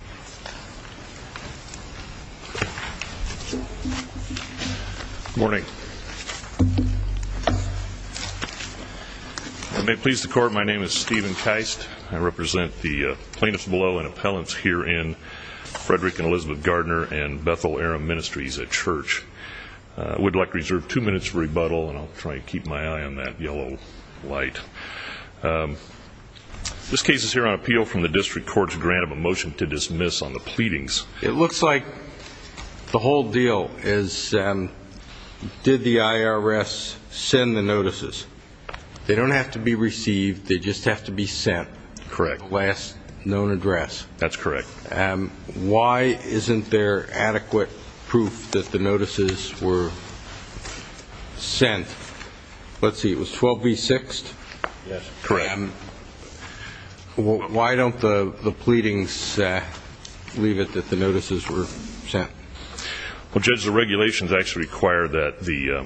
Good morning. I may please the court, my name is Stephen Keist. I represent the plaintiffs below and appellants here in Frederick and Elizabeth Gardner and Bethel Aram Ministries at Church. I would like to reserve two minutes for rebuttal and I'll try to keep my eye on that yellow light. This case is here on appeal from the District Court's grant of a motion to dismiss on the pleadings. It looks like the whole deal is did the IRS send the notices? They don't have to be received, they just have to be sent. Correct. Last known address. That's correct. Why isn't there adequate proof that the notices were sent? Let's see, it leave it that the notices were sent. Well Judge, the regulations actually require that the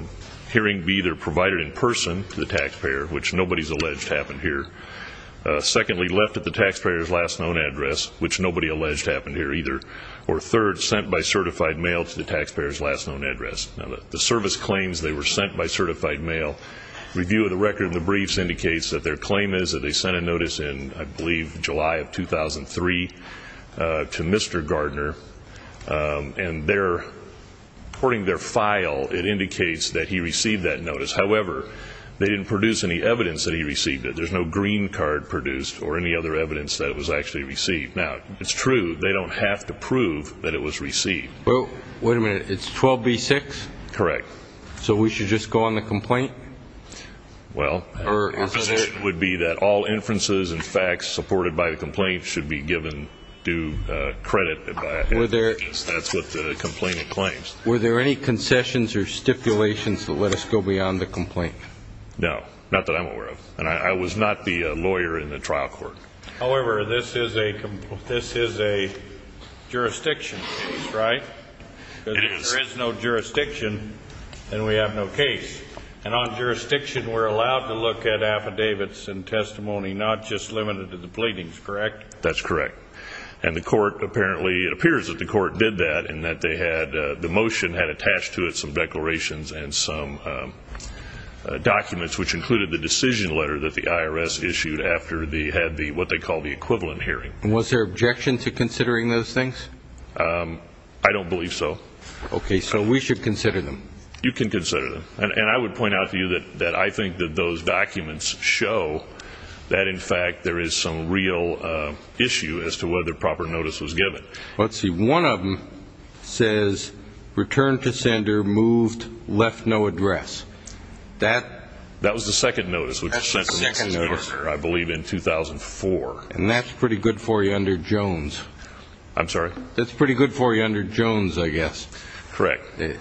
hearing be either provided in person to the taxpayer, which nobody's alleged happened here. Secondly, left at the taxpayer's last known address, which nobody alleged happened here either. Or third, sent by certified mail to the taxpayer's last known address. Now the service claims they were sent by certified mail. Review of the record in the briefs indicates that their claim is that they sent a notice in, I believe, July of 2003 to Mr. Gardner. And they're, according to their file, it indicates that he received that notice. However, they didn't produce any evidence that he received it. There's no green card produced or any other evidence that it was actually received. Now, it's true, they don't have to prove that it was received. Well, wait a minute, it's 12B6? Correct. So we should just go on the case? It would be that all inferences and facts supported by the complaint should be given due credit. That's what the complainant claims. Were there any concessions or stipulations that let us go beyond the complaint? No, not that I'm aware of. And I was not the lawyer in the trial court. However, this is a jurisdiction case, right? There is no jurisdiction and we have no case. And on jurisdiction, we're allowed to look at affidavits and testimony, not just limited to the pleadings, correct? That's correct. And the court apparently, it appears that the court did that, in that they had, the motion had attached to it some declarations and some documents, which included the decision letter that the IRS issued after they had the, what they call the equivalent hearing. And was there objection to considering those things? I don't believe so. Okay, so we should consider them. You can consider them. And I would point out to you that I think that those documents show that in fact there is some real issue as to whether proper notice was given. Let's see, one of them says return to sender, moved, left no address. That was the second notice, which was sent pretty good for you under Jones, I guess. Correct. Let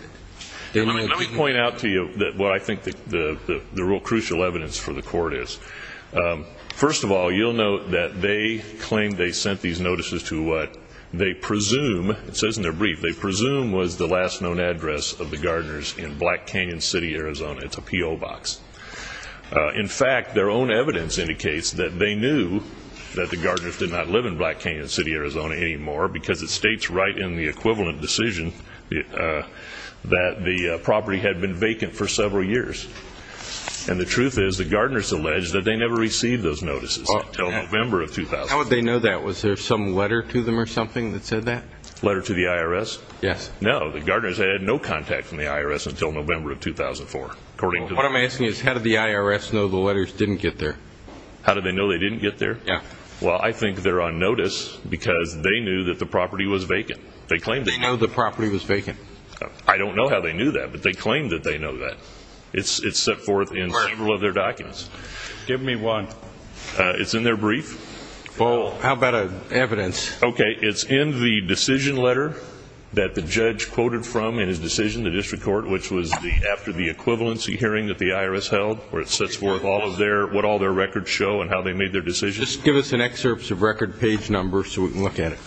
me point out to you what I think the real crucial evidence for the court is. First of all, you'll note that they claimed they sent these notices to what they presume, it says in their brief, they presume was the last known address of the Gardeners in Black Canyon City, Arizona. It's a P.O. box. In fact, their own evidence indicates that they knew that the Gardeners did not live in Black Canyon anymore, because it states right in the equivalent decision that the property had been vacant for several years. And the truth is, the Gardeners allege that they never received those notices until November of 2004. How would they know that? Was there some letter to them or something that said that? Letter to the IRS? Yes. No, the Gardeners had no contact from the IRS until November of 2004. What I'm asking is, how did the IRS know the letters didn't get there? How did they know they didn't get there? Well, I think they're on notice because they knew that the property was vacant. They claimed it. They knew the property was vacant. I don't know how they knew that, but they claimed that they know that. It's set forth in several of their documents. Give me one. It's in their brief. Well, how about evidence? Okay, it's in the decision letter that the judge quoted from in his decision to district court, which was after the equivalency hearing that the IRS held, where it sets forth all of their, what all their records show and how they made their decisions. Just give us an excerpt of record page number so we can look at it.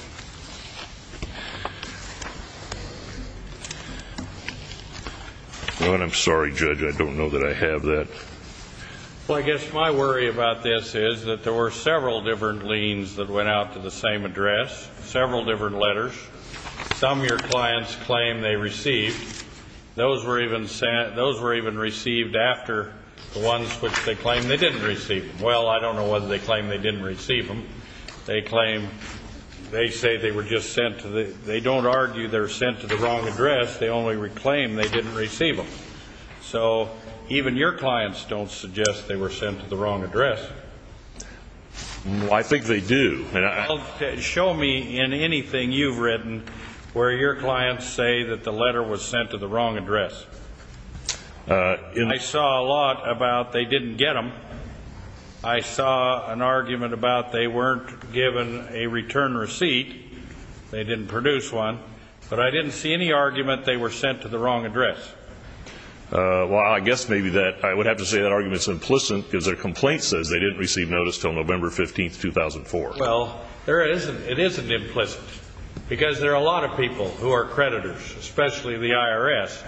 I'm sorry, Judge, I don't know that I have that. Well, I guess my worry about this is that there were several different liens that went out to the same address, several different letters. Some of your clients claim they received. Those were even sent, those were even received after the ones which they claim they didn't receive them. They claim, they say they were just sent to the, they don't argue they were sent to the wrong address. They only reclaim they didn't receive them. So even your clients don't suggest they were sent to the wrong address. I think they do. Show me in anything you've written where your clients say that the letter was sent to the weren't given a return receipt. They didn't produce one. But I didn't see any argument they were sent to the wrong address. Well, I guess maybe that, I would have to say that argument's implicit because their complaint says they didn't receive notice until November 15th, 2004. Well, there isn't, it isn't implicit. Because there are a lot of people who are creditors, especially the IRS,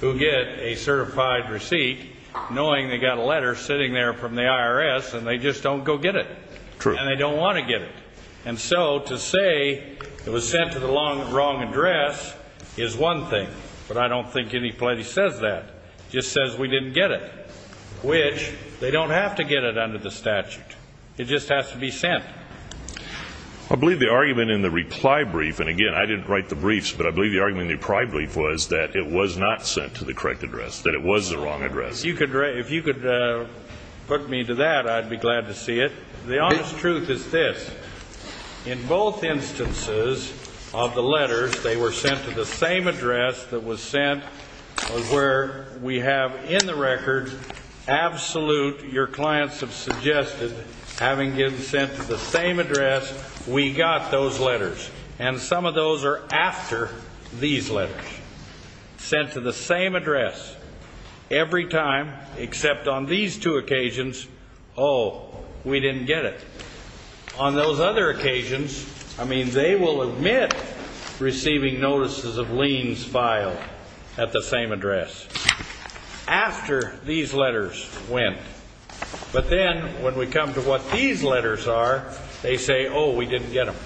who get a certified receipt knowing they got a letter sitting there from the IRS and they just don't go get it. True. And they don't want to get it. And so to say it was sent to the wrong address is one thing. But I don't think any pledge says that. Just says we didn't get it. Which, they don't have to get it under the statute. It just has to be sent. I believe the argument in the reply brief, and again, I didn't write the briefs, but I believe the argument in the reply brief was that it was not sent to the correct address. That it was the wrong address. If you could put me to that, I'd be glad to see it. The honest truth is this. In both instances of the letters, they were sent to the same address that was sent, where we have in the record, absolute, your clients have suggested, having been sent to the same address, we got those letters. And some of those are after these letters. Sent to the same address. Every time, except on these two occasions, oh, we didn't get it. On those other occasions, I mean, they will admit receiving notices of liens filed at the same address. After these letters went. But then, when we come to what these letters are, they say, oh, we didn't get them.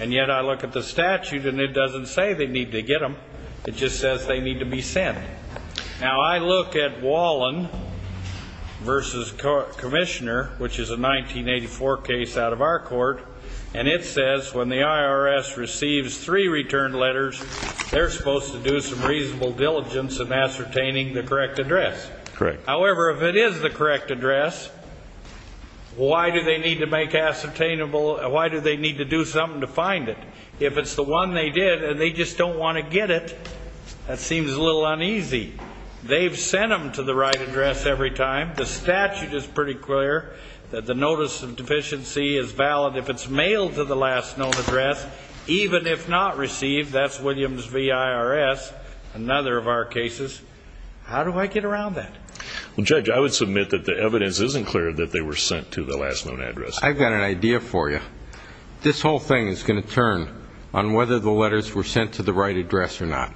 And yet I look at the statute, and it doesn't say they need to get them. It just says they need to be sent. Now, I look at Wallen v. Commissioner, which is a 1984 case out of our court, and it says when the IRS receives three return letters, they're supposed to do some reasonable diligence in ascertaining the correct address. However, if it is the correct address, why do they need to make ascertainable, why do they need to do something to find it? If it's the one they did, and they just don't want to get it, that seems a little uneasy. They've sent them to the right address every time. The statute is pretty clear that the notice of deficiency is valid if it's mailed to the last known address. Even if not received, that's Williams v. IRS, another of our cases. How do I get around that? Well, Judge, I would submit that the evidence isn't clear that they were sent to the last known address. I've got an idea for you. This whole thing is going to turn on whether the letters were sent to the right address or not.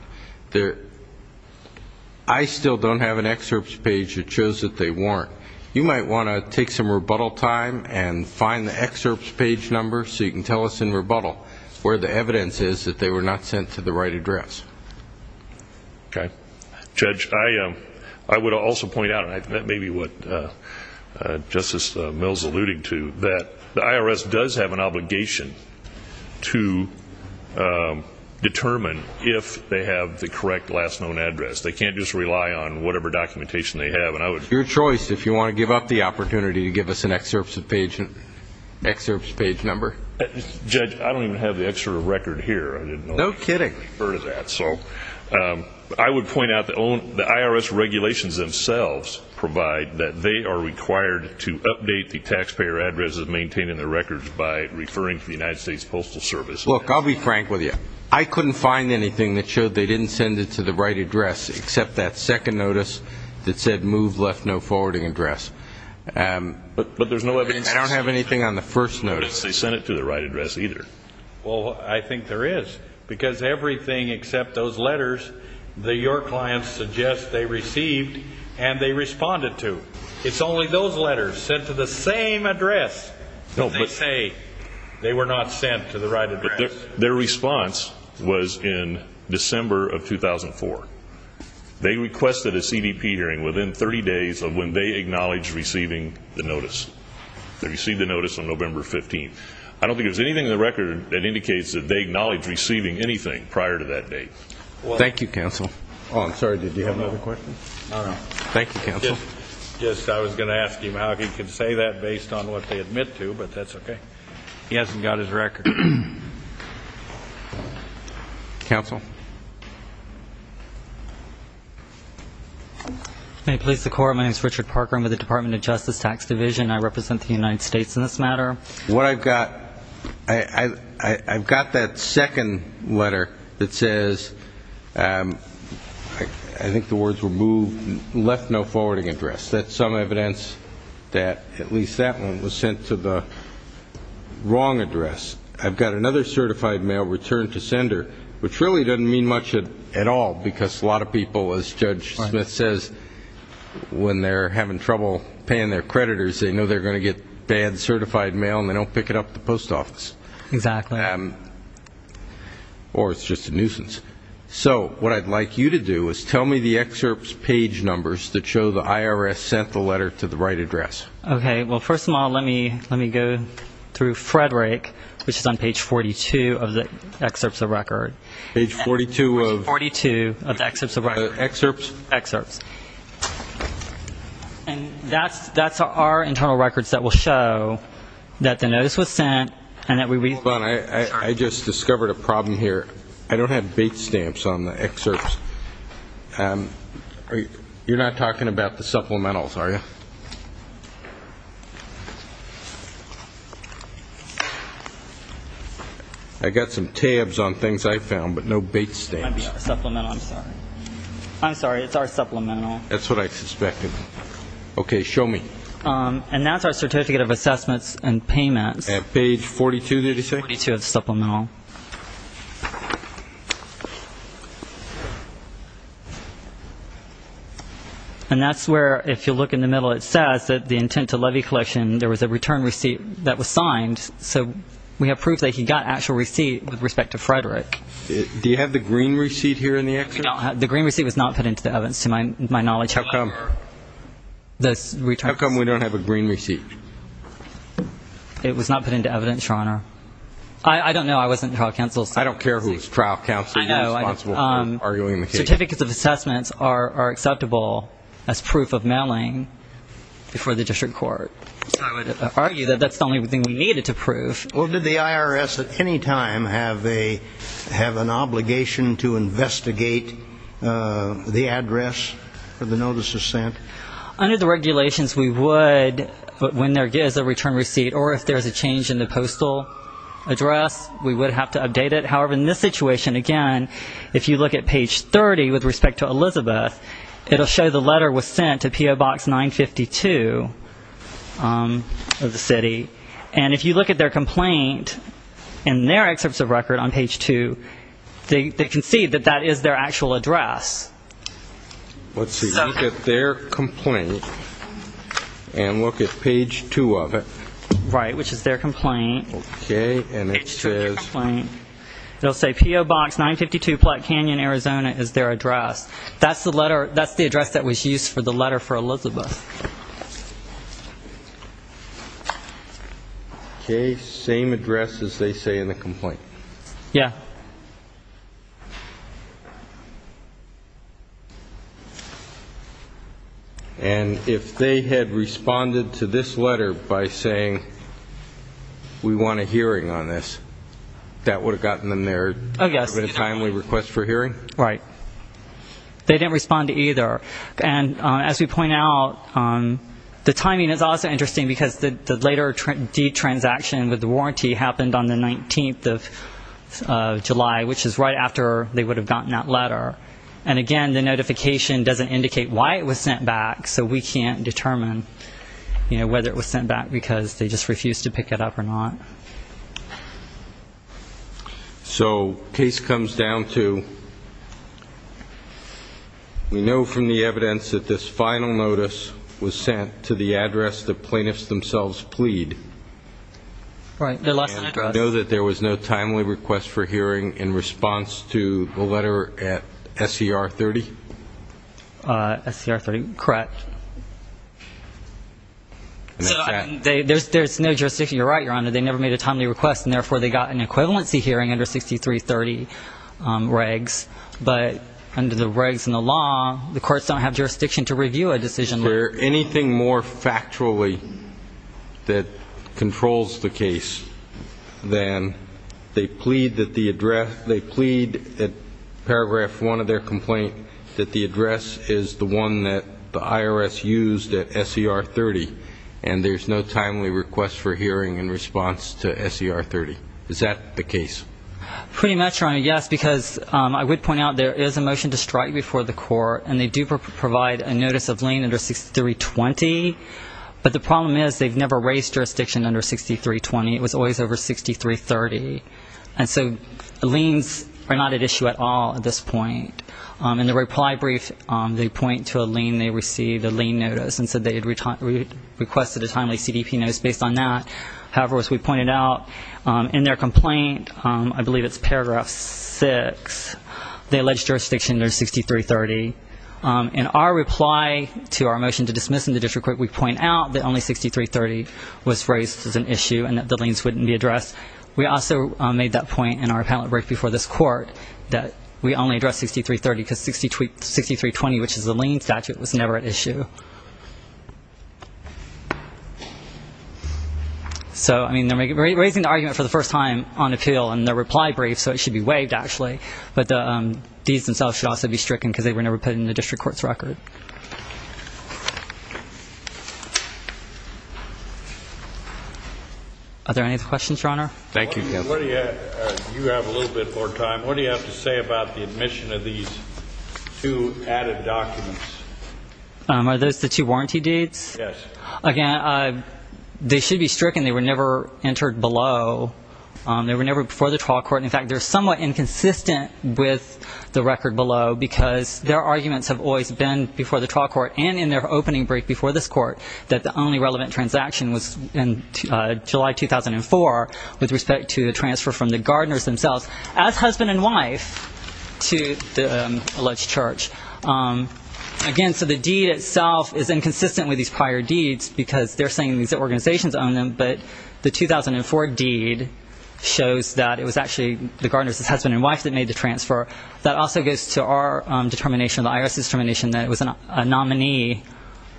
I still don't have an excerpts page that shows that they weren't. You might want to take some rebuttal time and find the excerpts page number so you can tell us in rebuttal where the evidence is that they were not sent to the right address. Okay. Judge, I would also point out, and that may be what Justice Mills alluded to, that the IRS does have an obligation to determine if they have the correct last known address. They can't just rely on whatever documentation they have. It's your choice if you want to give up the opportunity to give us an excerpts page number. Judge, I don't even have the excerpt record here. No kidding. I would point out that the IRS regulations themselves provide that they are required to update the taxpayer addresses maintaining their records by referring to the United States Postal Service. Look, I'll be frank with you. I couldn't find anything that showed they didn't send it to the right address except that second notice that said move left no forwarding address. But there's no evidence. I don't have anything on the first notice. They sent it to the right address either. Well, I think there is. Because everything except those letters that your clients suggest they received and they responded to. It's only those letters sent to the same address that they say they were not sent to the right address. Their response was in December of 2004. They requested a CDP hearing within 30 days of when they acknowledged receiving the notice. They received the notice on November 15th. I don't think there's anything in the record that indicates that they acknowledged receiving anything prior to that date. Thank you, Counsel. Oh, I'm sorry. Did you have another question? No, no. Thank you, Counsel. Just, I was going to ask him how he can say that based on what they admit to, but that's okay. He hasn't got his record. Counsel. May it please the Court, my name is Richard Parker. I'm with the Department of Justice Tax Division. I represent the United States in this matter. What I've got, I've got that second letter that says, I think the words were moved, left no forwarding address. That's some evidence that at least that one was sent to the wrong address. I've got another certified mail returned to sender, which really doesn't mean much at all because a lot of people, as Judge Smith says, when they're having trouble paying their creditors, they know they're going to get bad certified mail and they don't pick it up at the post office. Exactly. Or it's just a nuisance. So, what I'd like you to do is tell me the excerpts page numbers that show the IRS sent the letter to the right address. Okay. Well, first of all, let me go through Frederick, which is on page 42 of the excerpts of record. Page 42 of? Page 42 of the excerpts of record. Excerpts? Excerpts. And that's, that's our internal records that will show that the notice was sent and that we reasoned. Hold on. I just discovered a problem here. I don't have bait stamps on the excerpts. You're not talking about the supplementals, are you? I got some tabs on things I found, but no bait stamps. Might be our supplemental. I'm sorry. I'm sorry. It's our supplemental. That's what I suspected. Okay, show me. And that's our certificate of assessments and payments. At page 42, did he say? Page 42 of the supplemental. And that's where, if you look in the middle, it says that the intent to levy collection, there was a return receipt that was signed, so we have proof that he got actual receipt with respect to Frederick. Do you have the green receipt here in the excerpt? The green receipt was not put into the evidence, to my knowledge, Your Honor. How come? How come we don't have a green receipt? It was not put into evidence, Your Honor. I don't know. I wasn't in trial counsel. I don't care who's trial counsel. You're responsible for arguing the case. Certificates of assessments are acceptable as proof of mailing before the district court. I would argue that that's the only thing we needed to prove. Well, did the IRS at any time have an obligation to investigate the address where the notice was sent? Under the regulations, we would, when there is a return receipt, or if there's a change in the postal address, we would have to update it. However, in this situation, again, if you look at page 30 with respect to Elizabeth, it'll show the letter was sent to PO Box 952 of the city. And if you look at their complaint, in their excerpts of record on page 2, they concede that that is their actual address. Let's see. Look at their complaint and look at page 2 of it. Right, which is their complaint. Okay. And it says... It'll say, PO Box 952, Platte Canyon, Arizona is their address. That's the letter, that's the address that was used for the letter for Elizabeth. Okay, same address as they say in the complaint. Yeah. And if they had responded to this letter by saying, we want a hearing on this, that would have gotten them their timely request for hearing? Right. They didn't respond to either. And as we point out, the timing is also interesting because the later detransaction with the warranty happened on the 19th of July, which is right after they would have gotten that letter. And again, the notification doesn't indicate why it was sent back, so we can't determine, you know, whether it was sent back because they just refused to pick it up or not. Okay. So case comes down to, we know from the evidence that this final notice was sent to the address the plaintiffs themselves plead. Right, their last address. And we know that there was no timely request for hearing in response to the letter at SER 30? SER 30, correct. So there's no jurisdiction. You're right, Your Honor, they never made a timely request and therefore they got an equivalency hearing under 6330 regs. But under the regs in the law, the courts don't have jurisdiction to review a decision. Is there anything more factually that controls the case than they plead that the address, they plead at paragraph one of their complaint that the address is the one that the IRS used at SER 30 and there's no timely request for response to SER 30? Is that the case? Pretty much, Your Honor, yes, because I would point out there is a motion to strike before the court and they do provide a notice of lien under 6320, but the problem is they've never raised jurisdiction under 6320. It was always over 6330. And so liens are not at issue at all at this point. In the reply brief, they point to a lien, they received a lien notice and said they had requested a timely CDP notice based on that. However, as we pointed out in their complaint, I believe it's paragraph six, they alleged jurisdiction under 6330. In our reply to our motion to dismiss in the district court, we point out that only 6330 was raised as an issue and that the liens wouldn't be addressed. We also made that point in our appellate brief before this court that we only addressed 6330 because 6320, which is a lien statute, was never at issue. So, I mean, they're raising the argument for the first time on appeal in their reply brief, so it should be waived, actually, but the deeds themselves should also be stricken because they were never put in the district court's record. Are there any other questions, Your Honor? Thank you, Gail. You have a little bit more time. What do you have to say about the admission of these two added documents? Are those the two warranty deeds? Yes. Again, they should be stricken. They were never entered below. They were never before the trial court. In fact, they're somewhat inconsistent with the record below because their arguments have always been before the trial court and in their opening brief before this court that the only relevant transaction was in July 2004 with respect to the transfer from the gardeners themselves as husband and wife to the alleged church. Again, so the deed itself is inconsistent with these prior deeds because they're saying these organizations own them, but the 2004 deed shows that it was actually the gardeners' husband and wife that made the transfer. That also goes to our determination, the IRS's determination, that it was a nominee,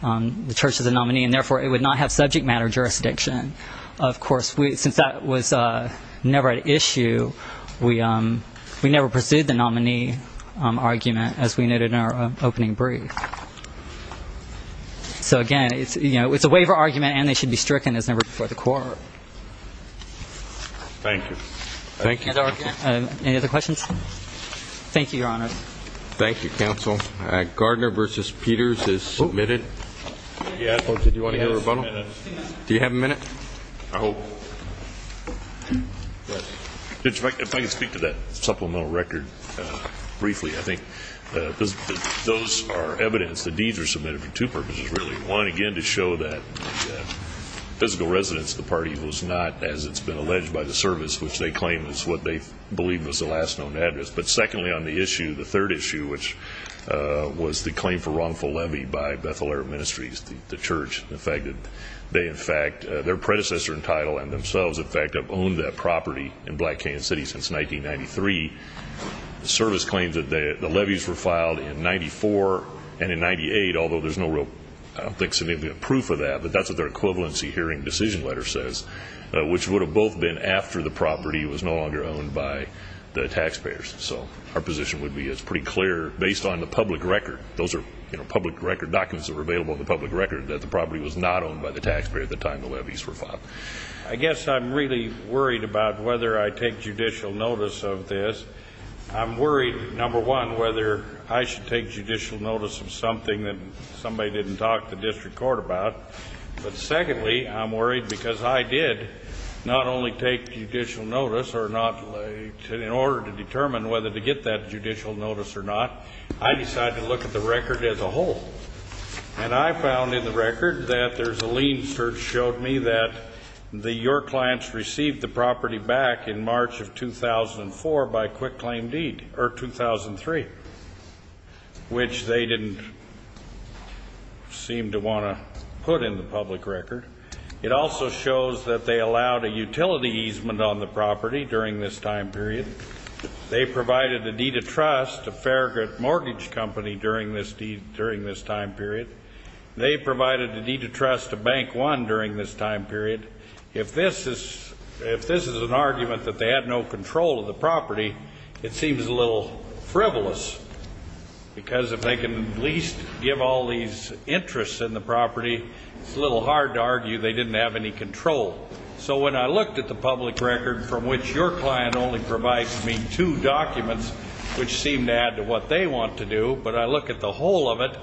the church's nominee, and therefore it would not have subject matter jurisdiction. Of course, since that was never an issue, we never pursued the nominee argument as we noted in our opening brief. So again, it's a waiver argument and they should be stricken as never before the court. Thank you. Thank you. Any other questions? Thank you, Your Honor. Thank you, counsel. Gardner v. Peters is submitted. Yes. Do you want to hear a rebuttal? Yes. Do you have a minute? I hope. Go ahead. Judge, if I could speak to that supplemental record briefly, I think those are evidence, the deeds are submitted for two purposes really. One, again, to show that the physical residence of the party was not, as it's been alleged by the service, which they claim is what they believe was the last known address. But secondly, on the issue, the third issue, which was the Board of Ministries, the church, the fact that they, in fact, their predecessor in title and themselves, in fact, have owned that property in Black Canyon City since 1993. The service claims that the levies were filed in 94 and in 98, although there's no real proof of that, but that's what their equivalency hearing decision letter says, which would have both been after the property was no longer owned by the taxpayers. So our position would be it's pretty clear based on the public record, those are public record documents that were available on the public record, that the property was not owned by the taxpayer at the time the levies were filed. I guess I'm really worried about whether I take judicial notice of this. I'm worried, number one, whether I should take judicial notice of something that somebody didn't talk to the district court about. But secondly, I'm worried because I did not only take judicial notice or not, I decided to look at the record as a whole. And I found in the record that there's a lien search showed me that your clients received the property back in March of 2004 by quick claim deed, or 2003, which they didn't seem to want to put in the public record. It also shows that they allowed a utility easement on the property during this time period. They provided a deed of trust to Farragut Mortgage Company during this time period. They provided a deed of trust to Bank One during this time period. If this is an argument that they had no control of the property, it seems a little frivolous. Because if they can at least give all these interests in the property, it's a little hard to argue they didn't have any control. So when I looked at the public record from which your client only provides me two documents, which seem to add to what they want to do, but I look at the whole of it,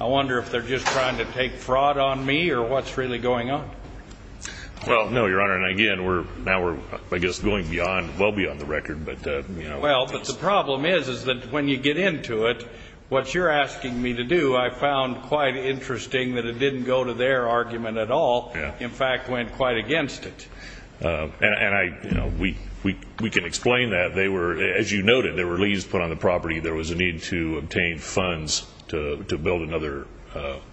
I wonder if they're just trying to take fraud on me or what's really going on. Well, no, Your Honor. And again, we're, now we're, I guess, going beyond, well beyond the record. But, you know, Well, but the problem is, is that when you get into it, what you're asking me to do, I found quite interesting that it didn't go to their argument at all. In fact, went quite against it. And I, you know, we, we, we can explain that. They were, as you noted, there were leaves put on the property. There was a need to obtain funds to, to build another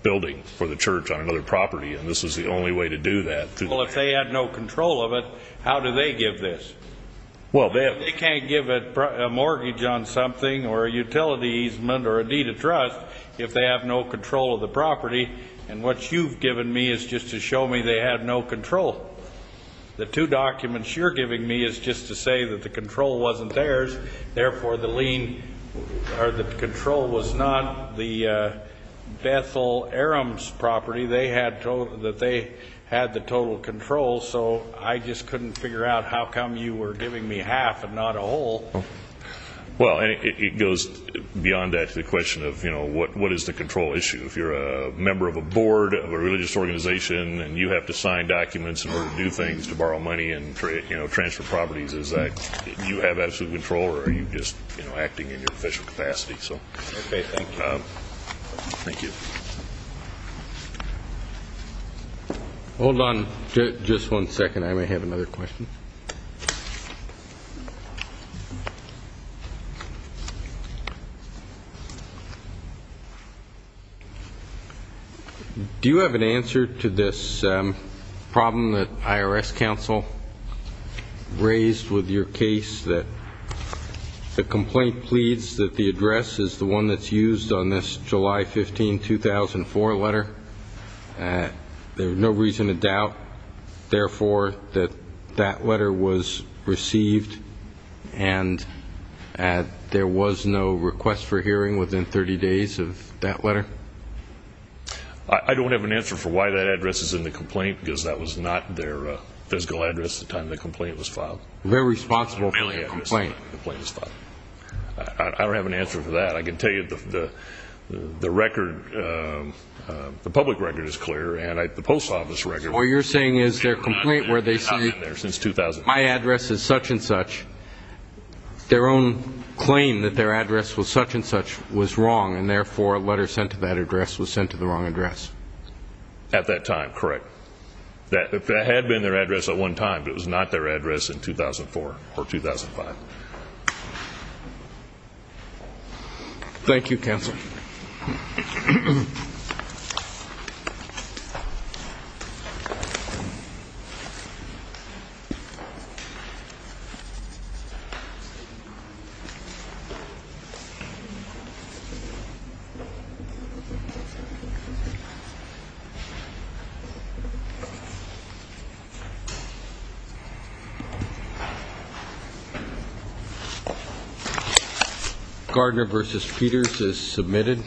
building for the church on another property. And this was the only way to do that. Well, if they had no control of it, how do they give this? Well, they They can't give a mortgage on something or a utility easement or a deed of trust if they have no control of the property. And what you've given me is just to show me they had no control. The two documents you're giving me is just to say that the control wasn't theirs. Therefore, the lien, or the control was not the Bethel Arums property. They had total, that they had the total control. So I just couldn't figure out how come you were giving me half and not a whole. Well, and it goes beyond that to the question of, you know, what, what is the control issue? If you're a member of a board of a religious organization and you have to sign documents in order to do things, to borrow money and, you know, transfer properties, is that, do you have absolute control or are you just, you know, acting in your official capacity? Okay, thank you. Thank you. Hold on just one second. I may have another question. Do you have an answer to this problem that IRS counsel raised with your case that the there was no reason to doubt, therefore, that that letter was received and there was no request for hearing within 30 days of that letter? I don't have an answer for why that address is in the complaint because that was not their physical address at the time the complaint was filed. Very responsible for the complaint. The complaint was filed. I don't have an answer for that. I can tell you the record, the public record is clear and I, the post office record. So what you're saying is their complaint where they say, my address is such and such, their own claim that their address was such and such was wrong and therefore a letter sent to that address was sent to the wrong address? At that time, correct. That had been their address at one time, but it was not their address in 2004 or 2005. Thank you, counsel. Gardner versus Peters is submitted.